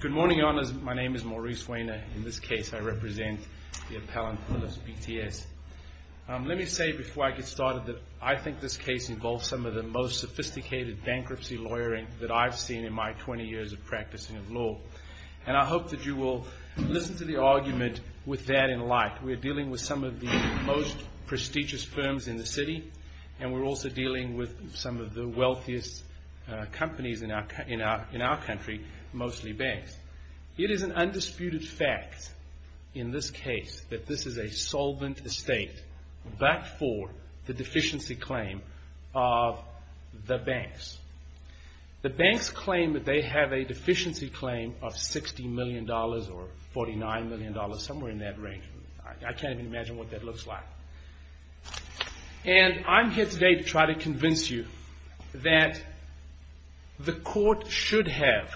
Good morning, Your Honors. My name is Maurice Wehner. In this case, I represent the appellant, Philips BTS. Let me say before I get started that I think this case involves some of the most sophisticated bankruptcy lawyering that I've seen in my 20 years of practicing law. And I hope that you will listen to the argument with that in light. We're dealing with some of the most prestigious firms in the city, and we're also dealing with some of the wealthiest companies in our country, mostly banks. It is an undisputed fact in this case that this is a solvent estate, but for the deficiency claim of the banks. The banks claim that they have a deficiency claim of $60 million or $49 million, somewhere in that range. I can't even imagine what that looks like. And I'm here today to try to convince you that the court should have,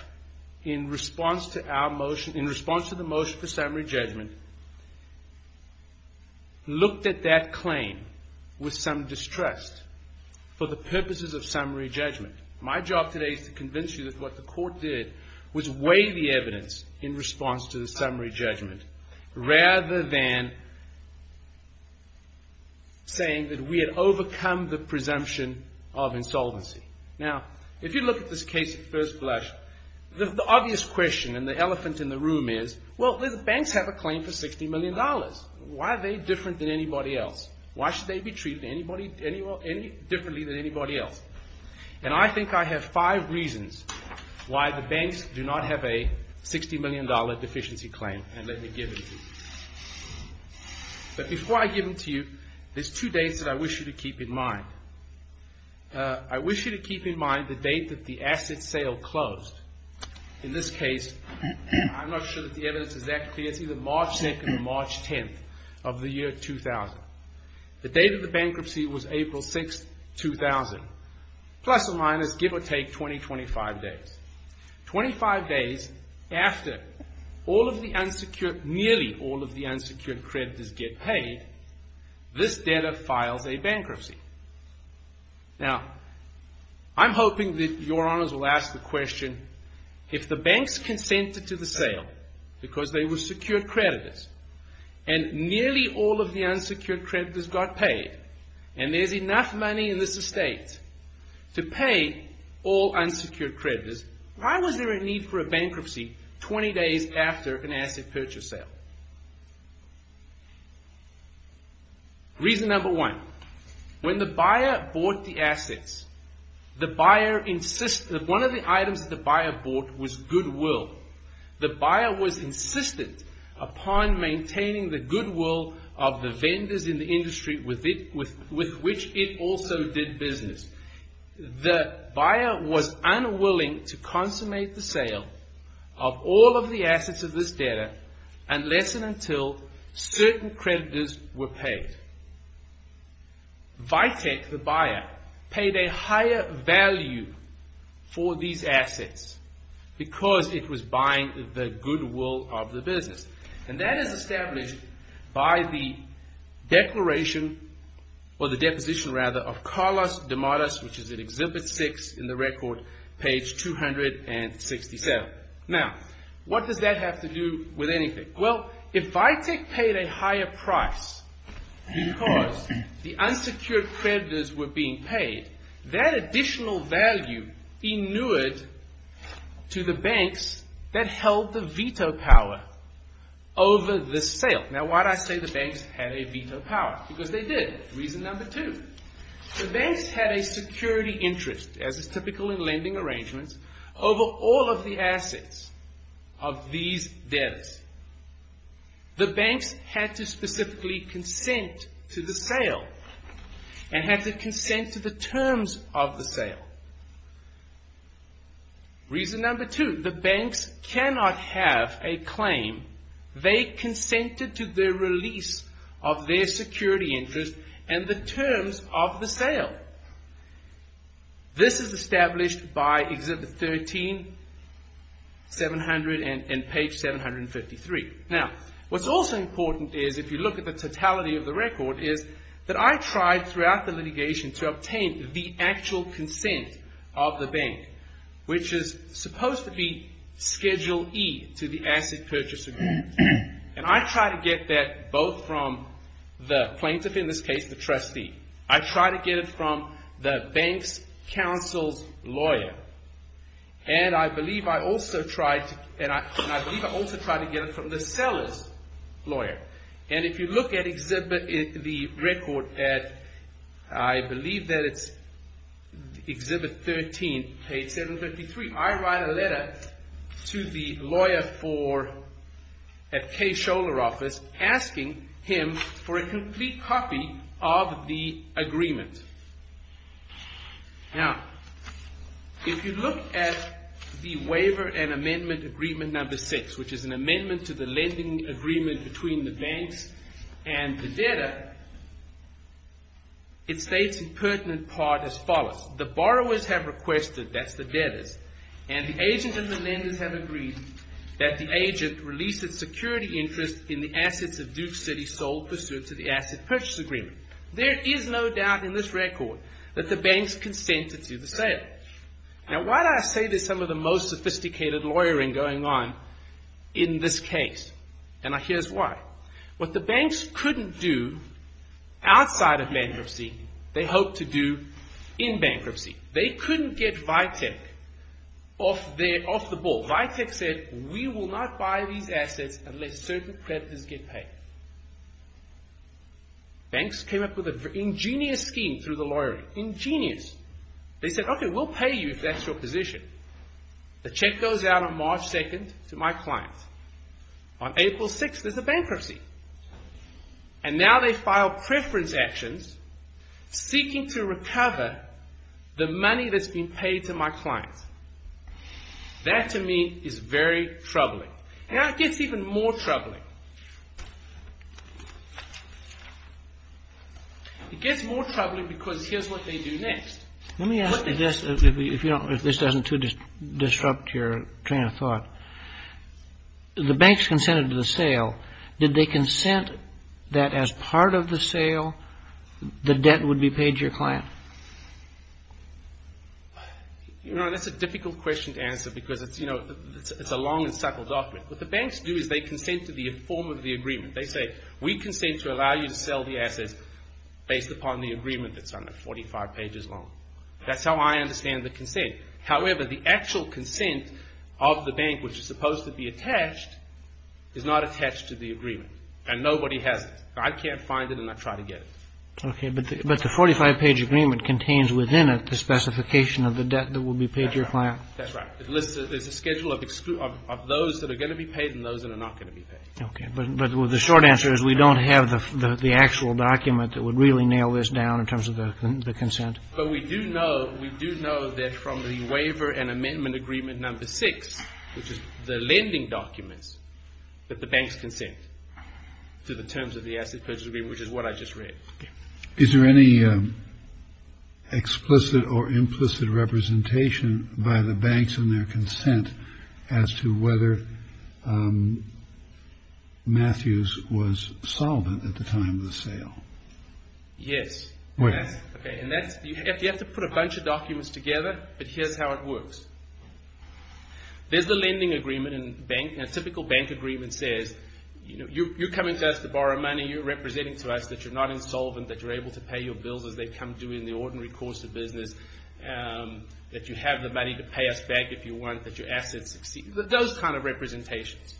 in response to our motion, in response to the motion for summary judgment, looked at that claim with some distrust for the purposes of summary judgment. My job today is to convince you that what the court did was weigh the evidence in response to the summary judgment, rather than saying that we had overcome the presumption of insolvency. Now, if you look at this case at first blush, the obvious question and the elephant in the room is, well, the banks have a claim for $60 million. Why are they different than anybody else? Why should they be treated differently than anybody else? And I think I have five reasons why the banks do not have a $60 million deficiency claim. And let me give them to you. But before I give them to you, there's two dates that I wish you to keep in mind. I wish you to keep in mind the date that the asset sale closed. In this case, I'm not sure that the evidence is that clear. It's either March 2nd or March 10th of the year 2000. The date of the bankruptcy was April 6th, 2000. Plus or minus, give or take, 20, 25 days. 25 days after all of the unsecured, nearly all of the unsecured creditors get paid, this debtor files a bankruptcy. Now, I'm hoping that your honors will ask the question, if the banks consented to the sale because they were secured creditors, and nearly all of the unsecured creditors got paid, and there's enough money in this estate to pay all unsecured creditors, why was there a need for a bankruptcy 20 days after an asset purchase sale? Reason number one. When the buyer bought the assets, one of the items that the buyer bought was goodwill. The buyer was insistent upon maintaining the goodwill of the vendors in the industry with which it also did business. The buyer was unwilling to consummate the sale of all of the assets of this debtor unless and until certain creditors were paid. Vitek, the buyer, paid a higher value for these assets because it was buying the goodwill of the business. And that is established by the declaration, or the deposition rather, of Carlos De Matos, which is in Exhibit 6 in the record, page 267. Now, what does that have to do with anything? Well, if Vitek paid a higher price because the unsecured creditors were being paid, that additional value inured to the banks that held the veto power over the sale. Now, why did I say the banks had a veto power? Because they did. Reason number two. The banks had a security interest, as is typical in lending arrangements, over all of the assets of these debtors. The banks had to specifically consent to the sale and had to consent to the terms of the sale. Reason number two. The banks cannot have a claim they consented to the release of their security interest and the terms of the sale. This is established by Exhibit 13, page 753. Now, what's also important is, if you look at the totality of the record, is that I tried throughout the litigation to obtain the actual consent of the bank, which is supposed to be Schedule E to the Asset Purchase Agreement. And I tried to get that both from the plaintiff, in this case the trustee. I tried to get it from the bank's counsel's lawyer. And I believe I also tried to get it from the seller's lawyer. And if you look at the record at, I believe that it's Exhibit 13, page 753, I write a letter to the lawyer at Kay Scholar's office, asking him for a complete copy of the agreement. Now, if you look at the waiver and amendment agreement number six, which is an amendment to the lending agreement between the banks and the debtor, it states in pertinent part as follows. The borrowers have requested, that's the debtors, and the agent and the lenders have agreed that the agent release its security interest in the assets of Duke City sold pursuant to the Asset Purchase Agreement. There is no doubt in this record that the banks consented to the sale. Now, why do I say there's some of the most sophisticated lawyering going on in this case? And here's why. What the banks couldn't do outside of bankruptcy, they hope to do in bankruptcy. They couldn't get Vitek off the ball. Vitek said, we will not buy these assets unless certain creditors get paid. Banks came up with an ingenious scheme through the lawyering. Ingenious. They said, okay, we'll pay you if that's your position. The check goes out on March 2nd to my client. On April 6th, there's a bankruptcy. And now they file preference actions seeking to recover the money that's been paid to my client. That to me is very troubling. Now, it gets even more troubling. It gets more troubling because here's what they do next. Let me ask you this, if this doesn't too disrupt your train of thought. The banks consented to the sale. Did they consent that as part of the sale, the debt would be paid to your client? You know, that's a difficult question to answer because it's, you know, it's a long and subtle doctrine. What the banks do is they consent to the form of the agreement. They say, we consent to allow you to sell the assets based upon the agreement that's under 45 pages long. That's how I understand the consent. However, the actual consent of the bank, which is supposed to be attached, is not attached to the agreement. And nobody has it. I can't find it and I try to get it. Okay. But the 45-page agreement contains within it the specification of the debt that will be paid to your client. That's right. There's a schedule of those that are going to be paid and those that are not going to be paid. Okay. But the short answer is we don't have the actual document that would really nail this down in terms of the consent. But we do know that from the waiver and amendment agreement number six, which is the lending documents, that the banks consent to the terms of the asset purchase agreement, which is what I just read. Is there any explicit or implicit representation by the banks and their consent as to whether Matthews was solvent at the time of the sale? Yes. Okay. And you have to put a bunch of documents together, but here's how it works. There's the lending agreement and a typical bank agreement says, you're coming to us to borrow money. You're representing to us that you're not insolvent, that you're able to pay your bills as they come due in the ordinary course of business, that you have the money to pay us back if you want, that your assets succeed. Those kind of representations.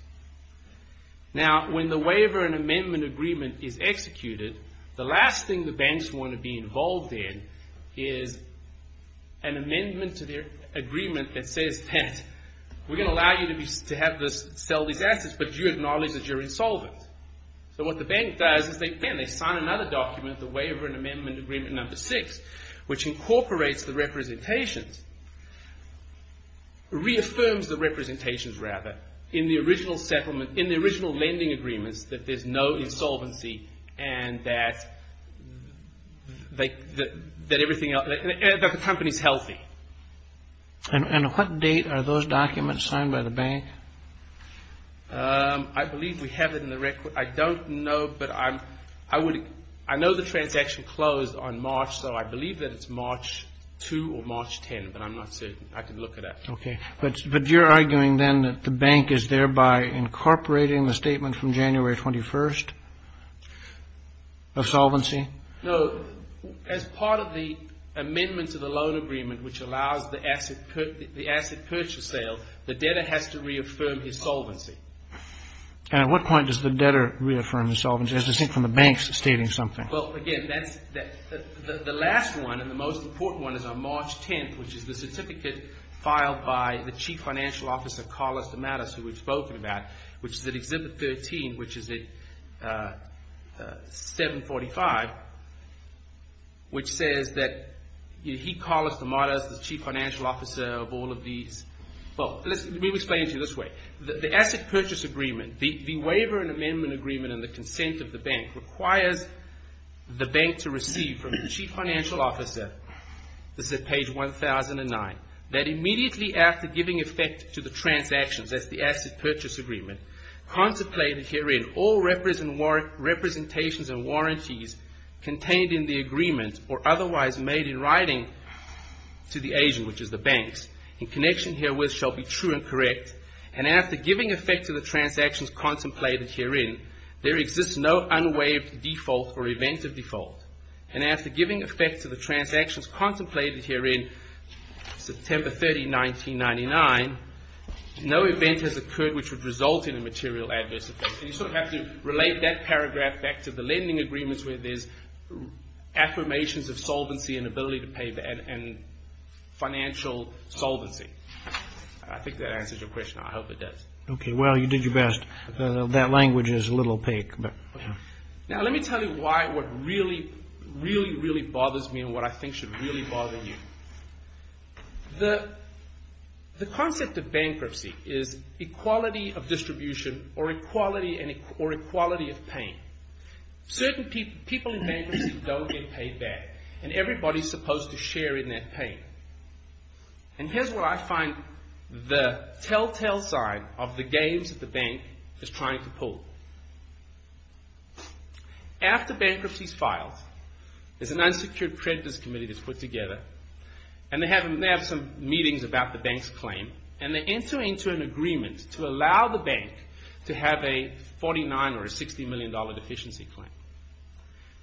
Now, when the waiver and amendment agreement is executed, the last thing the banks want to be involved in is an amendment to their agreement that says that we're going to allow you to sell these assets, but you acknowledge that you're insolvent. So what the bank does is they sign another document, the waiver and amendment agreement number six, which incorporates the representations, reaffirms the representations rather, in the original settlement, in the original lending agreements that there's no insolvency and that the company's healthy. And what date are those documents signed by the bank? I believe we have it in the record. I don't know, but I know the transaction closed on March, so I believe that it's March 2 or March 10, but I'm not certain. I can look it up. Okay. But you're arguing then that the bank is thereby incorporating the statement from January 21st of solvency? No. As part of the amendment to the loan agreement, which allows the asset purchase sale, the debtor has to reaffirm his solvency. And at what point does the debtor reaffirm his solvency? As I think from the banks stating something. Well, again, the last one and the most important one is on March 10th, which is the certificate filed by the chief financial officer, Carlos De Matos, who we've spoken about, which is at Exhibit 13, which is at 745, which says that he, Carlos De Matos, the chief financial officer of all of these. Well, let me explain it to you this way. The asset purchase agreement, the waiver and amendment agreement and the consent of the bank requires the bank to receive from the chief financial officer, this is at page 1009, that immediately after giving effect to the transactions, that's the asset purchase agreement, contemplated herein all representations and warranties contained in the agreement or otherwise made in writing to the agent, which is the banks, in connection herewith shall be true and correct. And after giving effect to the transactions contemplated herein, there exists no unwaived default or event of default. And after giving effect to the transactions contemplated herein, September 30, 1999, no event has occurred which would result in a material adverse effect. And you sort of have to relate that paragraph back to the lending agreements where there's affirmations of solvency and ability to pay and financial solvency. I think that answers your question. I hope it does. Okay. Well, you did your best. That language is a little opaque. Now, let me tell you why what really, really, really bothers me and what I think should really bother you. The concept of bankruptcy is equality of distribution or equality of pain. Certain people in bankruptcy don't get paid back and everybody's supposed to share in that pain. And here's where I find the telltale sign of the games that the bank is trying to pull. After bankruptcy's filed, there's an unsecured creditors committee that's put together and they have some meetings about the bank's claim and they enter into an agreement to allow the bank to have a $49 or a $60 million deficiency claim.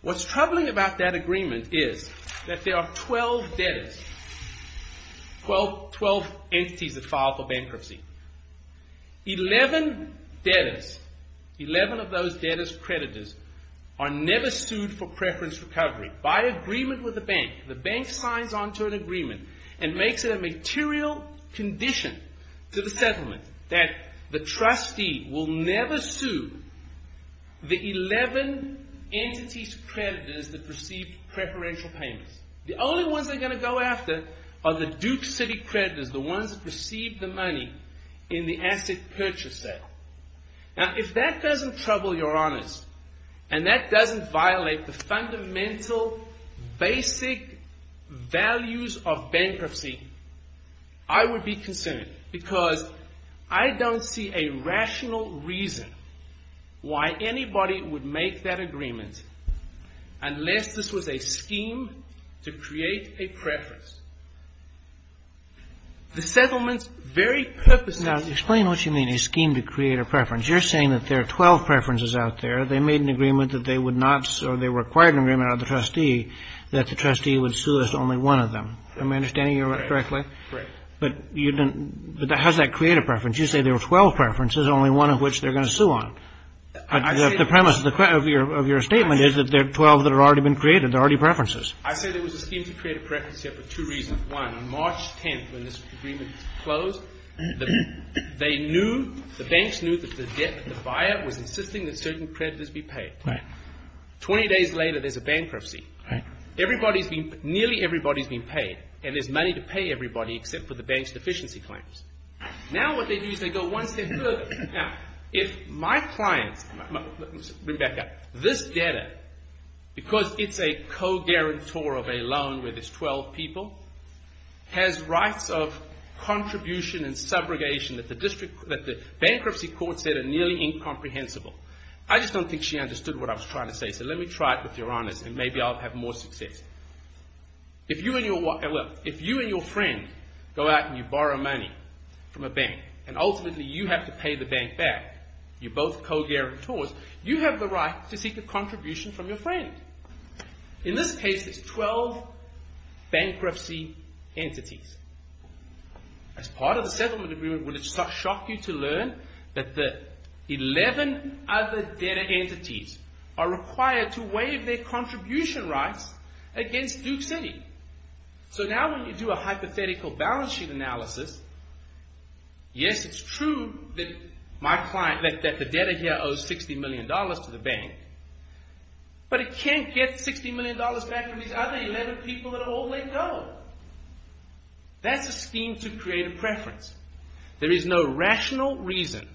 What's troubling about that agreement is that there are 12 debtors, 12 entities that file for bankruptcy. Eleven debtors, 11 of those debtors, creditors, are never sued for preference recovery. By agreement with the bank, the bank signs onto an agreement and makes it a material condition to the settlement that the trustee will never sue the 11 entities' creditors that received preferential payments. The only ones they're going to go after are the Duke City creditors, the ones that received the money in the asset purchase sale. Now, if that doesn't trouble your honors and that doesn't violate the fundamental, basic values of bankruptcy, I would be concerned because I don't see a rational reason why anybody would make that agreement unless this was a scheme to create a preference. The settlement's very purpose is to create a preference. Now, explain what you mean, a scheme to create a preference. You're saying that there are 12 preferences out there. They made an agreement that they would not or they required an agreement out of the trustee that the trustee would sue only one of them. Am I understanding you correctly? Right. But you didn't – but how does that create a preference? You say there are 12 preferences, only one of which they're going to sue on. The premise of your statement is that there are 12 that have already been created. There are already preferences. I say there was a scheme to create a preference here for two reasons. One, on March 10th, when this agreement was closed, they knew – the banks knew that the debt that the buyer was insisting that certain creditors be paid. Right. Twenty days later, there's a bankruptcy. Right. Everybody's been – nearly everybody's been paid, and there's money to pay everybody except for the bank's deficiency claims. Now what they do is they go one step further. Now, if my clients – bring it back up. This debtor, because it's a co-guarantor of a loan where there's 12 people, has rights of contribution and subrogation that the bankruptcy court said are nearly incomprehensible. I just don't think she understood what I was trying to say, so let me try it with your honours, and maybe I'll have more success. If you and your friend go out and you borrow money from a bank, and ultimately you have to pay the bank back, you're both co-guarantors, you have the right to seek a contribution from your friend. In this case, there's 12 bankruptcy entities. As part of the settlement agreement, would it shock you to learn that the 11 other debtor entities are required to waive their contribution rights against Duke City? So now when you do a hypothetical balance sheet analysis, yes, it's true that my client – that the debtor here owes $60 million to the bank, but it can't get $60 million back from these other 11 people that have all let go. That's a scheme to create a preference. There is no rational reason,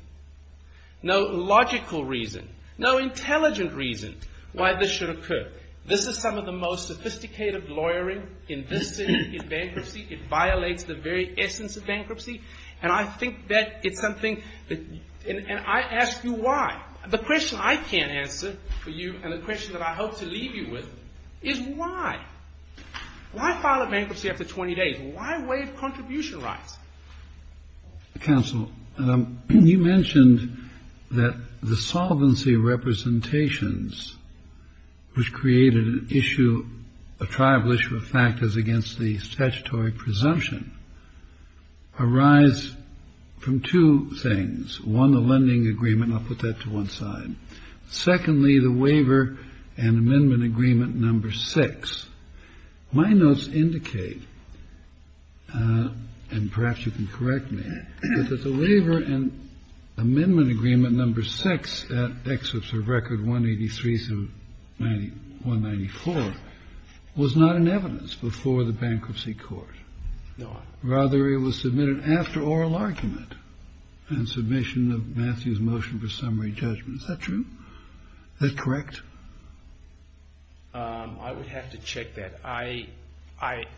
no logical reason, no intelligent reason why this should occur. This is some of the most sophisticated lawyering in this city in bankruptcy. It violates the very essence of bankruptcy, and I think that it's something – and I ask you why. The question I can't answer for you and the question that I hope to leave you with is why. Why file a bankruptcy after 20 days? Why waive contribution rights? Counsel, you mentioned that the solvency representations, which created an issue, a tribal issue of factors against the statutory presumption, arise from two things. One, the lending agreement. I'll put that to one side. Secondly, the waiver and amendment agreement number six. My notes indicate, and perhaps you can correct me, that the waiver and amendment agreement number six at Excerpt of Record 183-194 was not in evidence before the bankruptcy court. Rather, it was submitted after oral argument and submission of Matthew's motion for summary judgment. Is that true? Is that correct? I would have to check that. I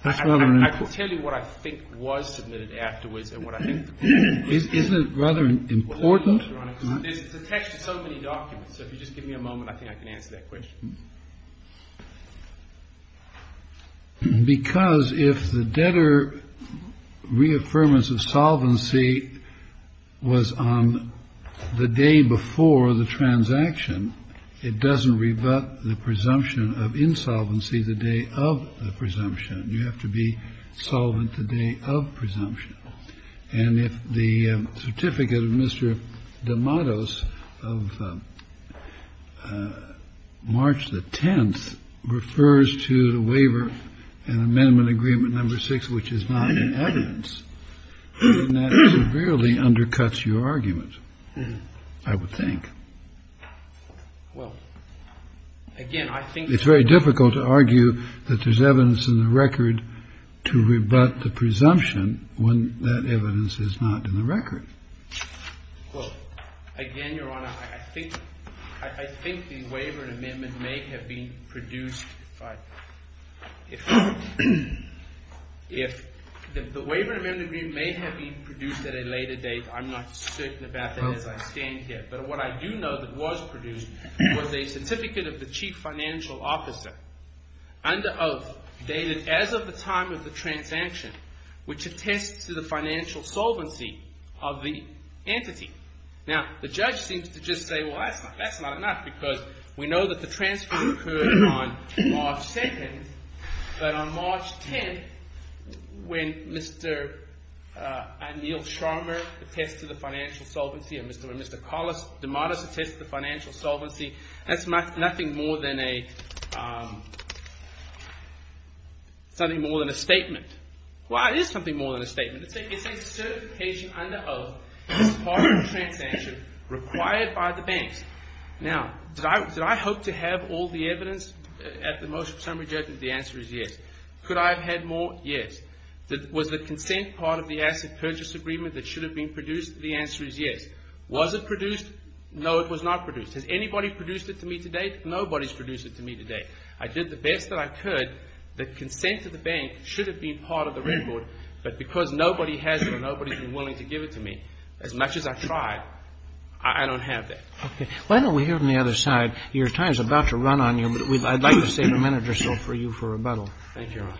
could tell you what I think was submitted afterwards and what I think – Isn't it rather important? It's attached to so many documents, so if you just give me a moment, I think I can answer that question. Because if the debtor reaffirmance of solvency was on the day before the transaction, it doesn't rebut the presumption of insolvency the day of the presumption. You have to be solvent the day of presumption. And if the certificate of Mr. D'Amato's of March the 10th refers to the waiver and amendment agreement number six, which is not in evidence, then that severely undercuts your argument, I would think. Well, again, I think – It's very difficult to argue that there's evidence in the record to rebut the presumption when that evidence is not in the record. Well, again, Your Honor, I think the waiver and amendment may have been produced by – if the waiver and amendment agreement may have been produced at a later date, I'm not certain about that as I stand here. But what I do know that was produced was a certificate of the chief financial officer under oath dated as of the time of the transaction, which attests to the financial solvency of the entity. Now, the judge seems to just say, well, that's not enough because we know that the transfer occurred on March 2nd. But on March 10th when Mr. Anil Sharma attests to the financial solvency and when Mr. Carlos D'Amato attests to the financial solvency, that's nothing more than a statement. Well, it is something more than a statement. It's a certification under oath as part of the transaction required by the banks. Now, did I hope to have all the evidence at the most summary judgment? The answer is yes. Could I have had more? Yes. Was the consent part of the asset purchase agreement that should have been produced? The answer is yes. Was it produced? No, it was not produced. Has anybody produced it to me to date? Nobody has produced it to me to date. I did the best that I could. The consent of the bank should have been part of the record. But because nobody has it or nobody has been willing to give it to me, as much as I tried, I don't have that. Okay. Why don't we hear from the other side? Your time is about to run on you, but I'd like to save a minute or so for you for rebuttal. Thank you, Your Honor.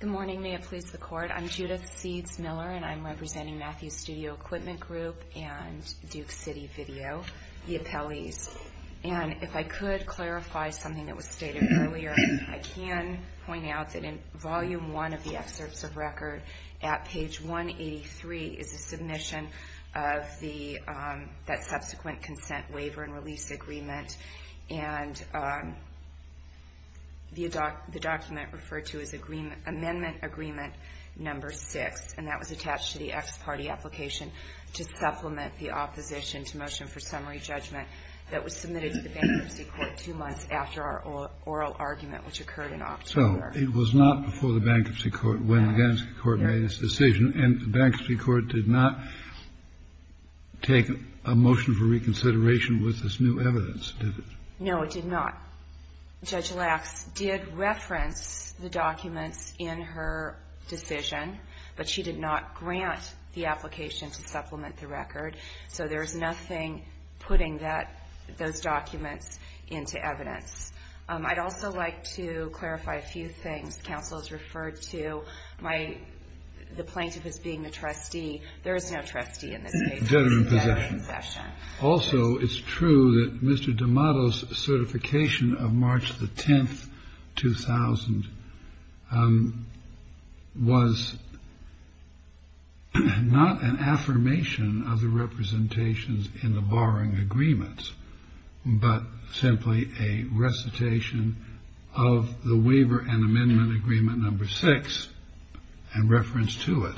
Good morning. May it please the Court. I'm Judith Seeds Miller, and I'm representing Matthews Studio Equipment Group and Duke City Video, the appellees. And if I could clarify something that was stated earlier, I can point out that in Volume 1 of the excerpts of record, at page 183, is a submission of that subsequent consent waiver and release agreement. And the document referred to as Amendment Agreement Number 6, and that was attached to the ex parte application to supplement the opposition to Motion for Summary Judgment that was submitted to the Bankruptcy Court two months after our oral argument, which occurred in October. So it was not before the Bankruptcy Court when the Gansky Court made its decision, and the Bankruptcy Court did not take a motion for reconsideration with this new evidence, did it? No, it did not. Judge Lax did reference the documents in her decision, but she did not grant the application to supplement the record. So there is nothing putting those documents into evidence. I'd also like to clarify a few things. Counsel has referred to the plaintiff as being the trustee. There is no trustee in this case. Also, it's true that Mr. D'Amato's certification of March the 10th, 2000, was not an affirmation of the representations in the borrowing agreement, but simply a recitation of the Waiver and Amendment Agreement Number 6, and reference to it.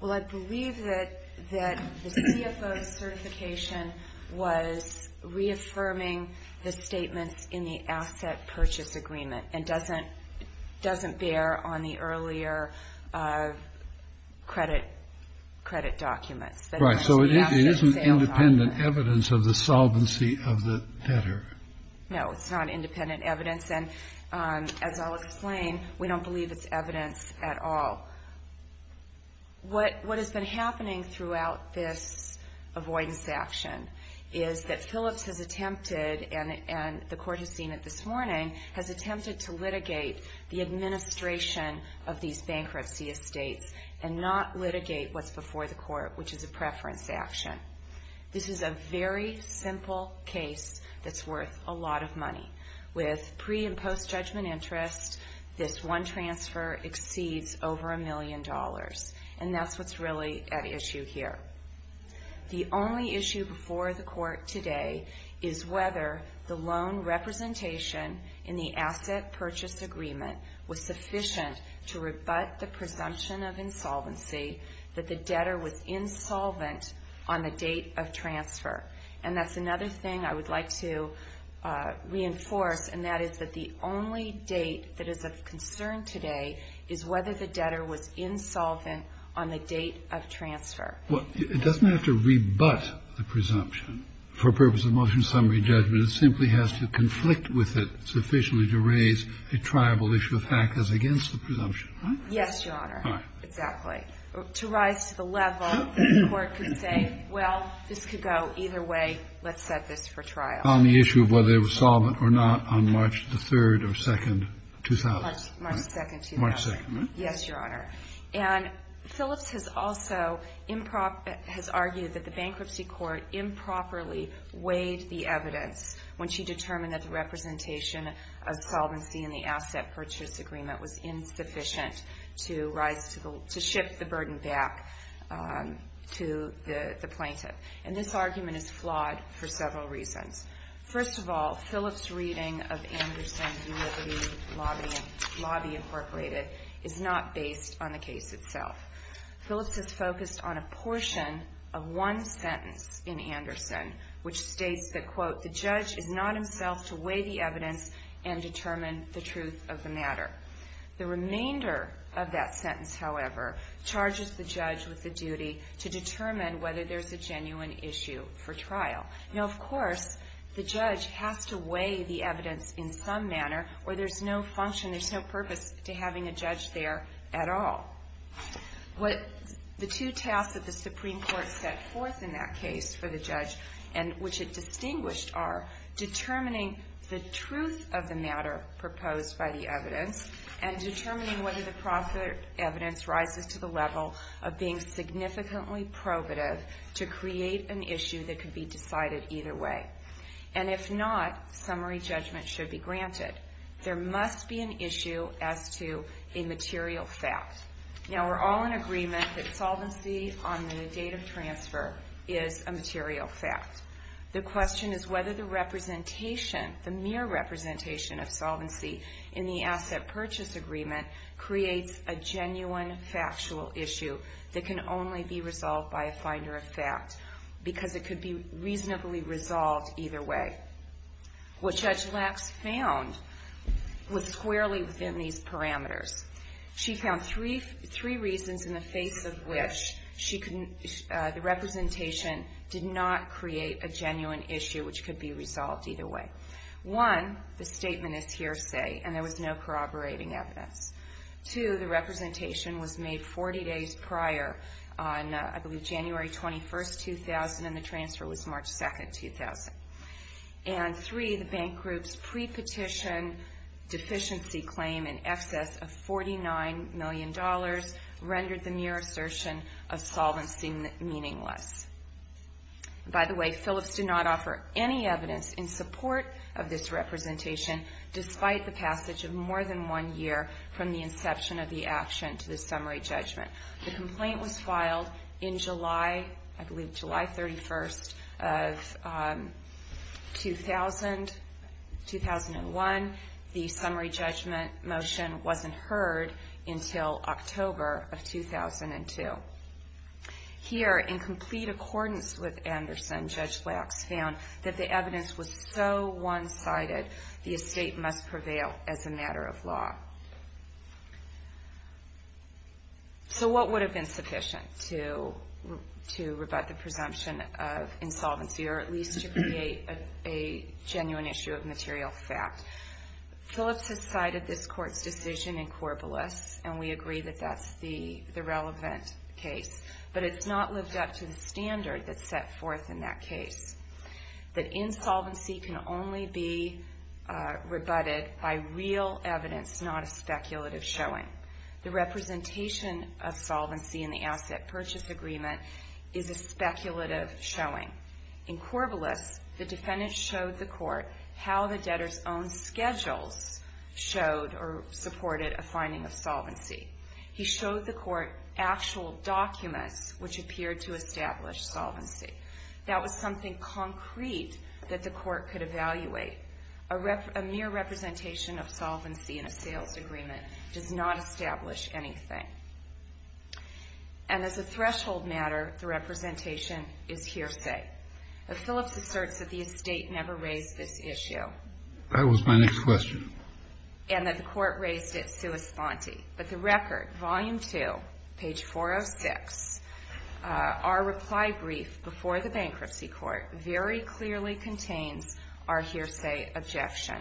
Well, I believe that the CFO's certification was reaffirming the statements in the earlier credit documents. Right. So it isn't independent evidence of the solvency of the debtor. No, it's not independent evidence. And as I'll explain, we don't believe it's evidence at all. What has been happening throughout this avoidance action is that Phillips has attempted and the court has seen it this morning, has attempted to litigate the administration of these bankruptcy estates and not litigate what's before the court, which is a preference action. This is a very simple case that's worth a lot of money. With pre- and post-judgment interest, this one transfer exceeds over a million dollars, and that's what's really at issue here. The only issue before the court today is whether the loan representation in the asset purchase agreement was sufficient to rebut the presumption of insolvency, that the debtor was insolvent on the date of transfer. And that's another thing I would like to reinforce, and that is that the only date that is of concern today is whether the debtor was insolvent on the date of transfer. Well, it doesn't have to rebut the presumption. For purpose of motion summary judgment, it simply has to conflict with it sufficiently to raise a triable issue of HAC as against the presumption, right? Yes, Your Honor. Exactly. To rise to the level that the court could say, well, this could go either way. Let's set this for trial. On the issue of whether they were solvent or not on March the 3rd or 2nd, 2000. March 2nd, 2000. March 2nd, right? Yes, Your Honor. And Phillips has also argued that the bankruptcy court improperly weighed the evidence when she determined that the representation of solvency in the asset purchase agreement was insufficient to ship the burden back to the plaintiff. And this argument is flawed for several reasons. First of all, Phillips' reading of Anderson's Unity Lobby Incorporated is not based on the case itself. Phillips is focused on a portion of one sentence in Anderson which states that, quote, the judge is not himself to weigh the evidence and determine the truth of the matter. The remainder of that sentence, however, charges the judge with the duty to determine whether there's a genuine issue for trial. Now, of course, the judge has to weigh the evidence in some manner or there's no function, there's no purpose to having a judge there at all. The two tasks that the Supreme Court set forth in that case for the judge and which it distinguished are determining the truth of the matter proposed by the evidence and determining whether the evidence rises to the level of being significantly probative to create an issue that could be decided either way. And if not, summary judgment should be granted. There must be an issue as to a material fact. Now, we're all in agreement that solvency on the date of transfer is a material fact. The question is whether the representation, the mere representation of solvency in the asset purchase agreement creates a genuine factual issue that can only be resolved by a finder of fact because it could be reasonably resolved either way. What Judge Lacks found was squarely within these parameters. She found three reasons in the face of which the representation did not create a genuine issue which could be resolved either way. One, the statement is hearsay and there was no corroborating evidence. Two, the representation was made 40 days prior on, I believe, January 21, 2000, and the transfer was March 2, 2000. And three, the bank group's pre-petition deficiency claim in excess of $49 million rendered the mere assertion of solvency meaningless. By the way, Phillips did not offer any evidence in support of this representation despite the passage of more than one year from the inception of the action to the summary judgment. The complaint was filed in July, I believe July 31, 2001. The summary judgment motion wasn't heard until October of 2002. Here, in complete accordance with Anderson, Judge Lacks found that the evidence was so one-sided, the estate must prevail as a matter of law. So what would have been sufficient to rebut the presumption of insolvency or at least to create a genuine issue of material fact? Phillips has cited this Court's decision in Corbulus, and we agree that that's the relevant case, but it's not lived up to the standard that's set forth in that case, that insolvency can only be rebutted by real evidence, not a speculative showing. The representation of solvency in the asset purchase agreement is a speculative showing. In Corbulus, the defendant showed the Court how the debtor's own schedules showed or supported a finding of solvency. He showed the Court actual documents which appeared to establish solvency. That was something concrete that the Court could evaluate. A mere representation of solvency in a sales agreement does not establish anything. And as a threshold matter, the representation is hearsay. But Phillips asserts that the estate never raised this issue. That was my next question. And that the Court raised it sua sponte. But the record, Volume 2, page 406, our reply brief before the bankruptcy court, very clearly contains our hearsay objection.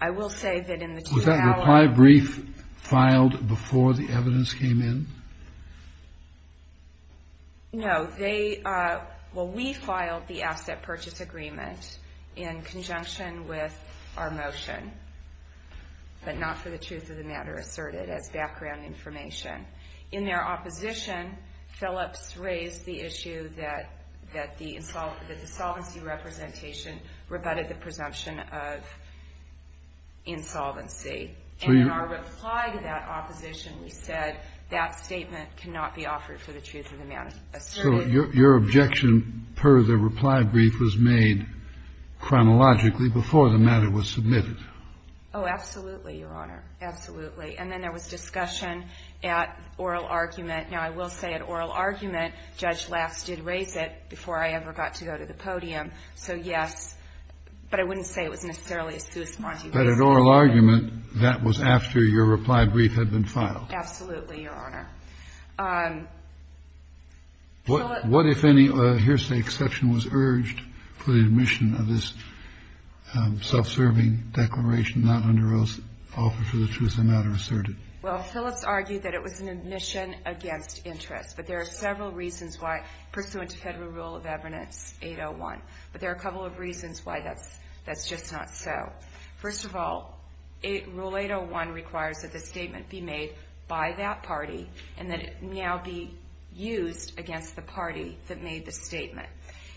I will say that in the two hours... Was that reply brief filed before the evidence came in? No. Well, we filed the asset purchase agreement in conjunction with our motion, but not for the truth of the matter asserted as background information. In their opposition, Phillips raised the issue that the insolvency representation rebutted the presumption of insolvency. And in our reply to that opposition, we said, that statement cannot be offered for the truth of the matter asserted. So your objection per the reply brief was made chronologically before the matter was submitted? Oh, absolutely, Your Honor, absolutely. And then there was discussion at oral argument. Now, I will say at oral argument, Judge Lass did raise it before I ever got to go to the podium. So, yes. But I wouldn't say it was necessarily a sui sumante. But at oral argument, that was after your reply brief had been filed? Absolutely, Your Honor. What if any hearsay exception was urged for the admission of this self-serving declaration not under oath, offer for the truth of the matter asserted? Well, Phillips argued that it was an admission against interest. But there are several reasons why, pursuant to Federal Rule of Evidence 801. But there are a couple of reasons why that's just not so. First of all, Rule 801 requires that the statement be made by that party and that it now be used against the party that made the statement.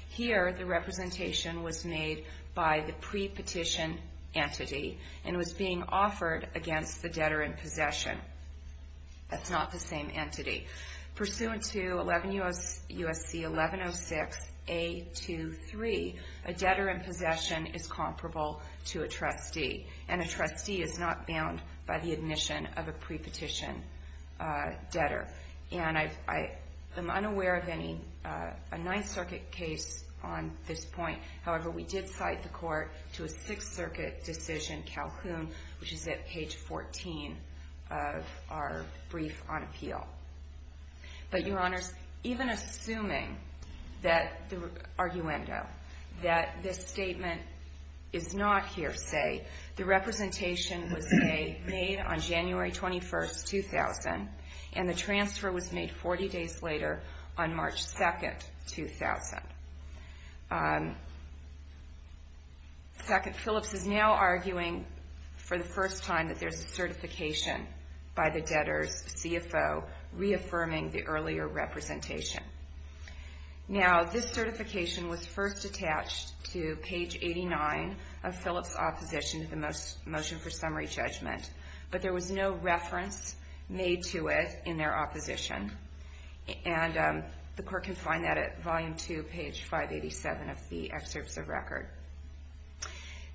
Here, the representation was made by the pre-petition entity and was being offered against the debtor in possession. That's not the same entity. Pursuant to 11 U.S.C. 1106 A.2.3, a debtor in possession is comparable to a trustee. And a trustee is not bound by the admission of a pre-petition debtor. And I'm unaware of a Ninth Circuit case on this point. However, we did cite the court to a Sixth Circuit decision, Calhoun, which is at page 14 of our brief on appeal. But, Your Honors, even assuming that the arguendo, that this statement is not hearsay, the representation was made on January 21, 2000, and the transfer was made 40 days later on March 2, 2000. Second, Phillips is now arguing for the first time that there's a certification by the debtor's CFO reaffirming the earlier representation. Now, this certification was first attached to page 89 of Phillips' opposition to the motion for summary judgment. But there was no reference made to it in their opposition. And the court can find that at volume 2, page 587 of the excerpts of record.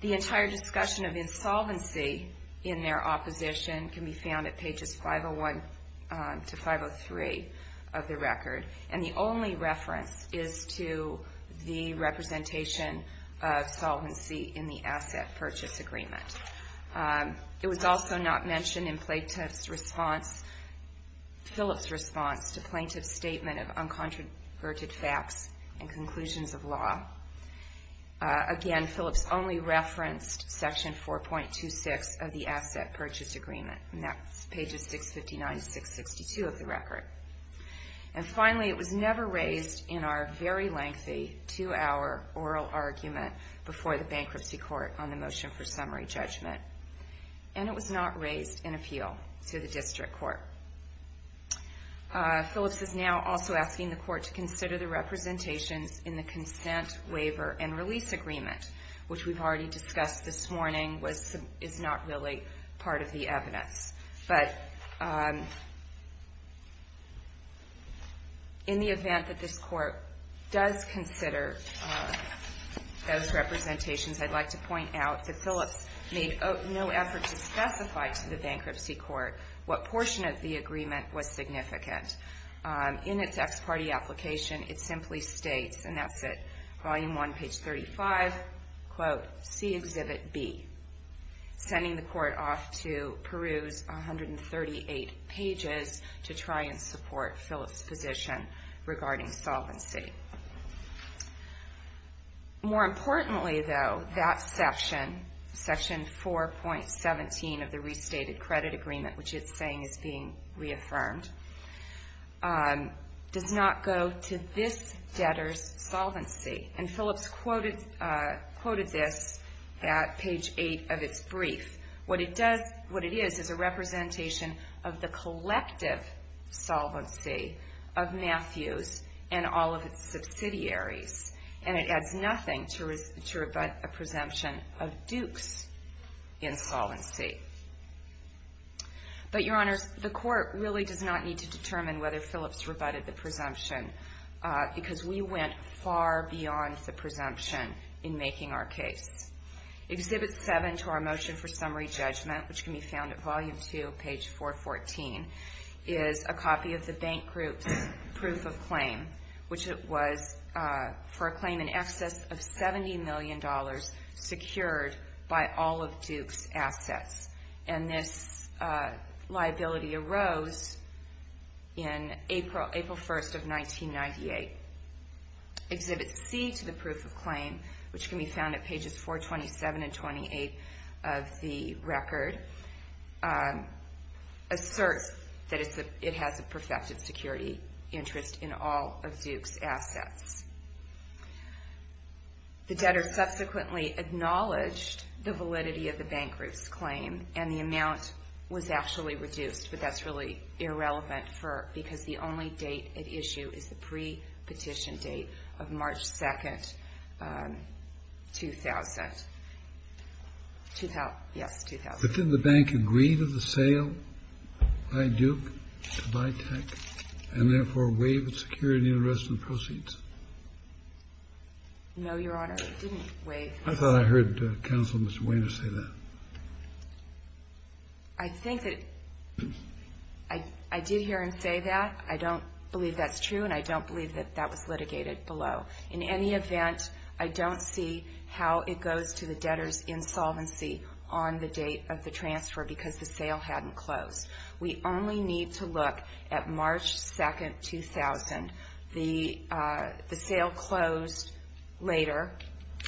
The entire discussion of insolvency in their opposition can be found at pages 501 to 503 of the record. And the only reference is to the representation of solvency in the asset purchase agreement. It was also not mentioned in Phillips' response to plaintiff's statement of uncontroverted facts and conclusions of law. Again, Phillips only referenced section 4.26 of the asset purchase agreement, and that's pages 659 to 662 of the record. And finally, it was never raised in our very lengthy two-hour oral argument before the bankruptcy court on the motion for summary judgment. And it was not raised in appeal to the district court. Phillips is now also asking the court to consider the representations in the consent, waiver, and release agreement, which we've already discussed this morning is not really part of the evidence. But in the event that this court does consider those representations, I'd like to point out that Phillips made no effort to specify to the bankruptcy court what portion of the agreement was significant. In its ex parte application, it simply states, and that's at volume 1, page 35, quote, see exhibit B, sending the court off to peruse 138 pages to try and support Phillips' position regarding solvency. More importantly, though, that section, section 4.17 of the restated credit agreement, which it's saying is being reaffirmed, does not go to this debtor's solvency. And Phillips quoted this at page 8 of its brief. What it is is a representation of the collective solvency of Matthews and all of its subsidiaries. And it adds nothing to rebut a presumption of Duke's insolvency. But, Your Honors, the court really does not need to determine whether Phillips rebutted the presumption because we went far beyond the presumption in making our case. Exhibit 7 to our motion for summary judgment, which can be found at volume 2, page 414, is a copy of the bank group's proof of claim, which was for a claim in excess of $70 million and this liability arose in April 1st of 1998. Exhibit C to the proof of claim, which can be found at pages 427 and 428 of the record, asserts that it has a perfected security interest in all of Duke's assets. The debtor subsequently acknowledged the validity of the bank group's claim and the amount was actually reduced, but that's really irrelevant because the only date at issue is the pre-petition date of March 2nd, 2000. Yes, 2000. But didn't the bank agree to the sale by Duke to buy tech and therefore waive its security interest in proceeds? No, Your Honor, it didn't waive. I thought I heard Counselor Mr. Weiner say that. I think that I did hear him say that. I don't believe that's true and I don't believe that that was litigated below. In any event, I don't see how it goes to the debtor's insolvency on the date of the transfer because the sale hadn't closed. We only need to look at March 2nd, 2000. The sale closed later.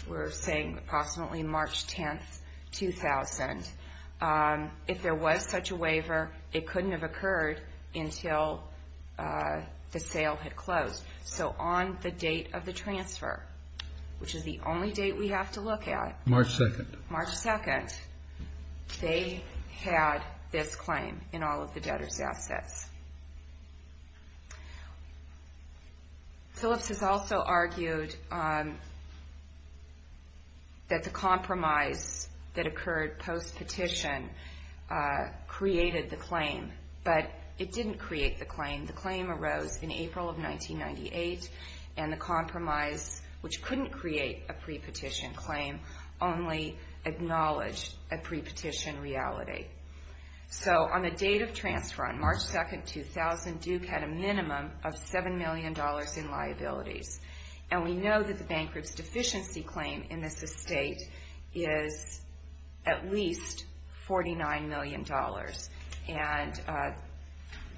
We're saying approximately March 10th, 2000. If there was such a waiver, it couldn't have occurred until the sale had closed. So on the date of the transfer, which is the only date we have to look at, March 2nd, they had this claim in all of the debtor's assets. Phillips has also argued that the compromise that occurred post-petition created the claim, the claim arose in April of 1998, and the compromise, which couldn't create a pre-petition claim, only acknowledged a pre-petition reality. So on the date of transfer, on March 2nd, 2000, Duke had a minimum of $7 million in liabilities. And we know that the bankruptcy deficiency claim in this estate is at least $49 million. And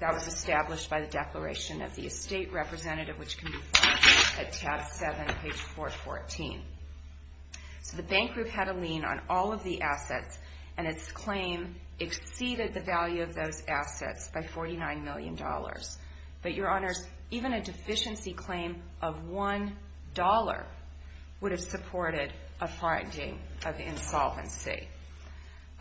that was established by the declaration of the estate representative, which can be found at tab 7, page 414. So the bank group had a lien on all of the assets, and its claim exceeded the value of those assets by $49 million. But, Your Honors, even a deficiency claim of $1 would have supported a finding of insolvency.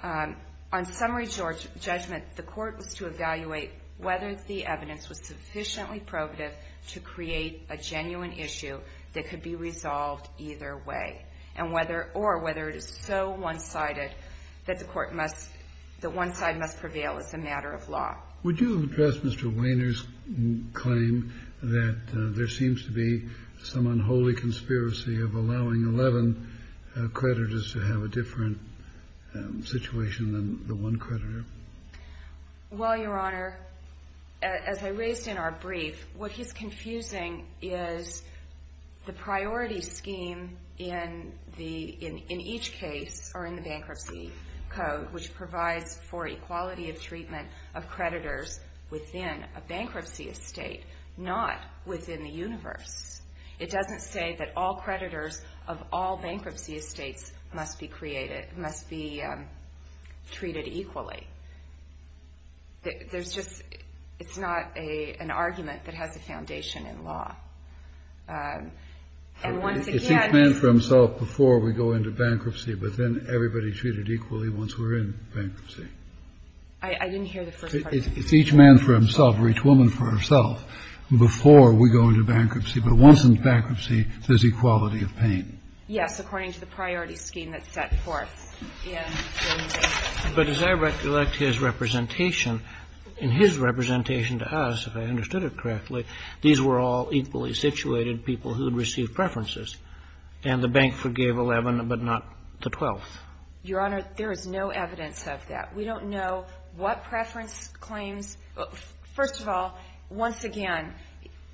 On summary judgment, the court was to evaluate whether the evidence was sufficiently probative to create a genuine issue that could be resolved either way, or whether it is so one-sided that the one side must prevail as a matter of law. Would you address Mr. Wainer's claim that there seems to be some unholy conspiracy of allowing 11 creditors to have a different situation than the one creditor? Well, Your Honor, as I raised in our brief, what he's confusing is the priority scheme in each case or in the Bankruptcy Code, which provides for equality of treatment of creditors within a bankruptcy estate, not within the universe. It doesn't say that all creditors of all bankruptcy estates must be created, must be treated equally. There's just not an argument that has a foundation in law. And once again... It's each man for himself before we go into bankruptcy, but then everybody's treated equally once we're in bankruptcy. I didn't hear the first part of that. It's each man for himself or each woman for herself before we go into bankruptcy, but once in bankruptcy, there's equality of pain. Yes, according to the priority scheme that's set forth in the Bankruptcy Code. But as I recollect his representation, in his representation to us, if I understood it correctly, these were all equally situated people who had received preferences, and the bank forgave 11 but not the 12th. Your Honor, there is no evidence of that. We don't know what preference claims. First of all, once again,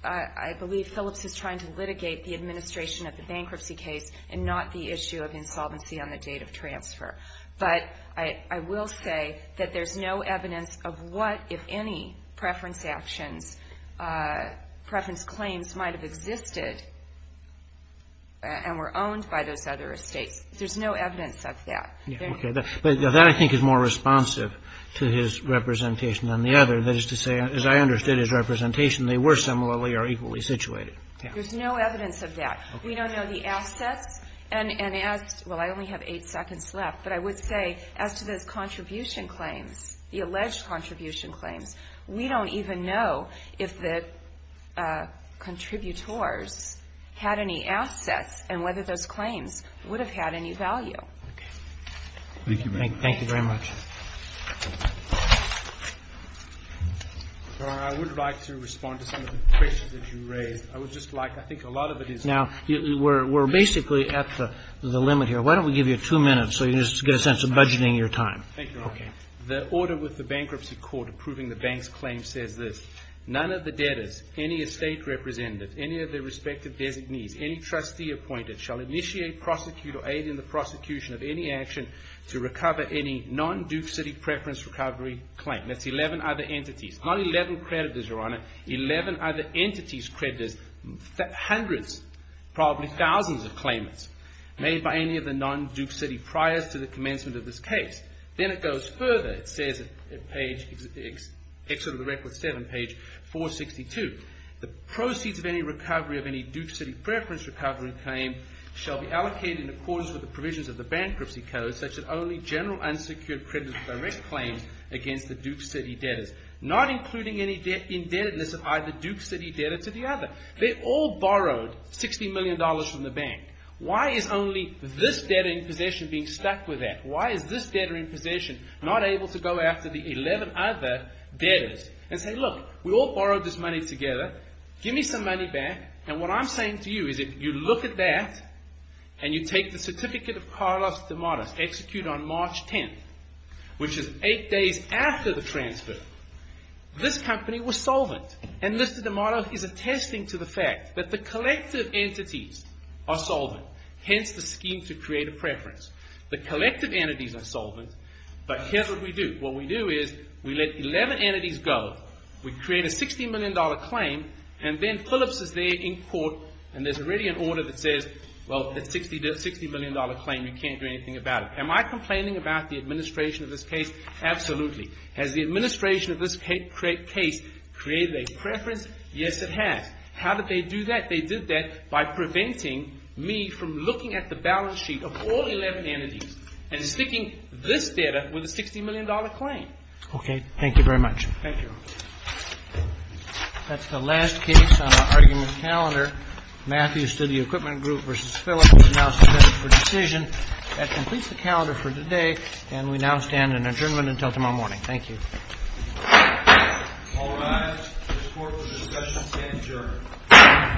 I believe Phillips is trying to litigate the administration of the bankruptcy case and not the issue of insolvency on the date of transfer. But I will say that there's no evidence of what, if any, preference actions, preference claims might have existed and were owned by those other estates. There's no evidence of that. That, I think, is more responsive to his representation than the other. That is to say, as I understood his representation, they were similarly or equally situated. There's no evidence of that. We don't know the assets. Well, I only have eight seconds left, but I would say as to those contribution claims, the alleged contribution claims, we don't even know if the contributors had any assets and whether those claims would have had any value. Okay. Thank you very much. Thank you very much. Your Honor, I would like to respond to some of the questions that you raised. I would just like, I think a lot of it is. Now, we're basically at the limit here. Why don't we give you two minutes so you can just get a sense of budgeting your time. Thank you, Your Honor. Okay. The order with the bankruptcy court approving the bank's claim says this. None of the debtors, any estate representative, any of their respective designees, any trustee appointed shall initiate, prosecute, or aid in the prosecution of any action to recover any non-Duke City preference recovery claim. That's 11 other entities. Not 11 creditors, Your Honor. 11 other entities creditors, hundreds, probably thousands of claimants made by any of the non-Duke City prior to the commencement of this case. Then it goes further. It says at page, Excerpt of the Record 7, page 462, the proceeds of any recovery of any Duke City preference recovery claim shall be allocated in accordance with the provisions of the bankruptcy code such that only general unsecured creditors direct claims against the Duke City debtors, not including any indebtedness of either Duke City debtor to the other. They all borrowed $60 million from the bank. Why is only this debtor in possession being stuck with that? Why is this debtor in possession not able to go after the 11 other debtors and say, Look, we all borrowed this money together. Give me some money back. And what I'm saying to you is if you look at that and you take the Certificate of Carlos De Matos, executed on March 10th, which is eight days after the transfer, this company was solvent. And Mr. De Matos is attesting to the fact that the collective entities are solvent, hence the scheme to create a preference. The collective entities are solvent, but here's what we do. What we do is we let 11 entities go, we create a $60 million claim, and then Phillips is there in court, and there's already an order that says, Well, that $60 million claim, you can't do anything about it. Am I complaining about the administration of this case? Absolutely. Has the administration of this case created a preference? Yes, it has. How did they do that? They did that by preventing me from looking at the balance sheet of all 11 entities and sticking this data with a $60 million claim. Okay. Thank you very much. Thank you. That's the last case on our argument calendar. Matthews to the Equipment Group versus Phillips is now submitted for decision. That completes the calendar for today, and we now stand in adjournment until tomorrow morning. Thank you. All rise. The court for discussion is adjourned. Thank you. Thank you.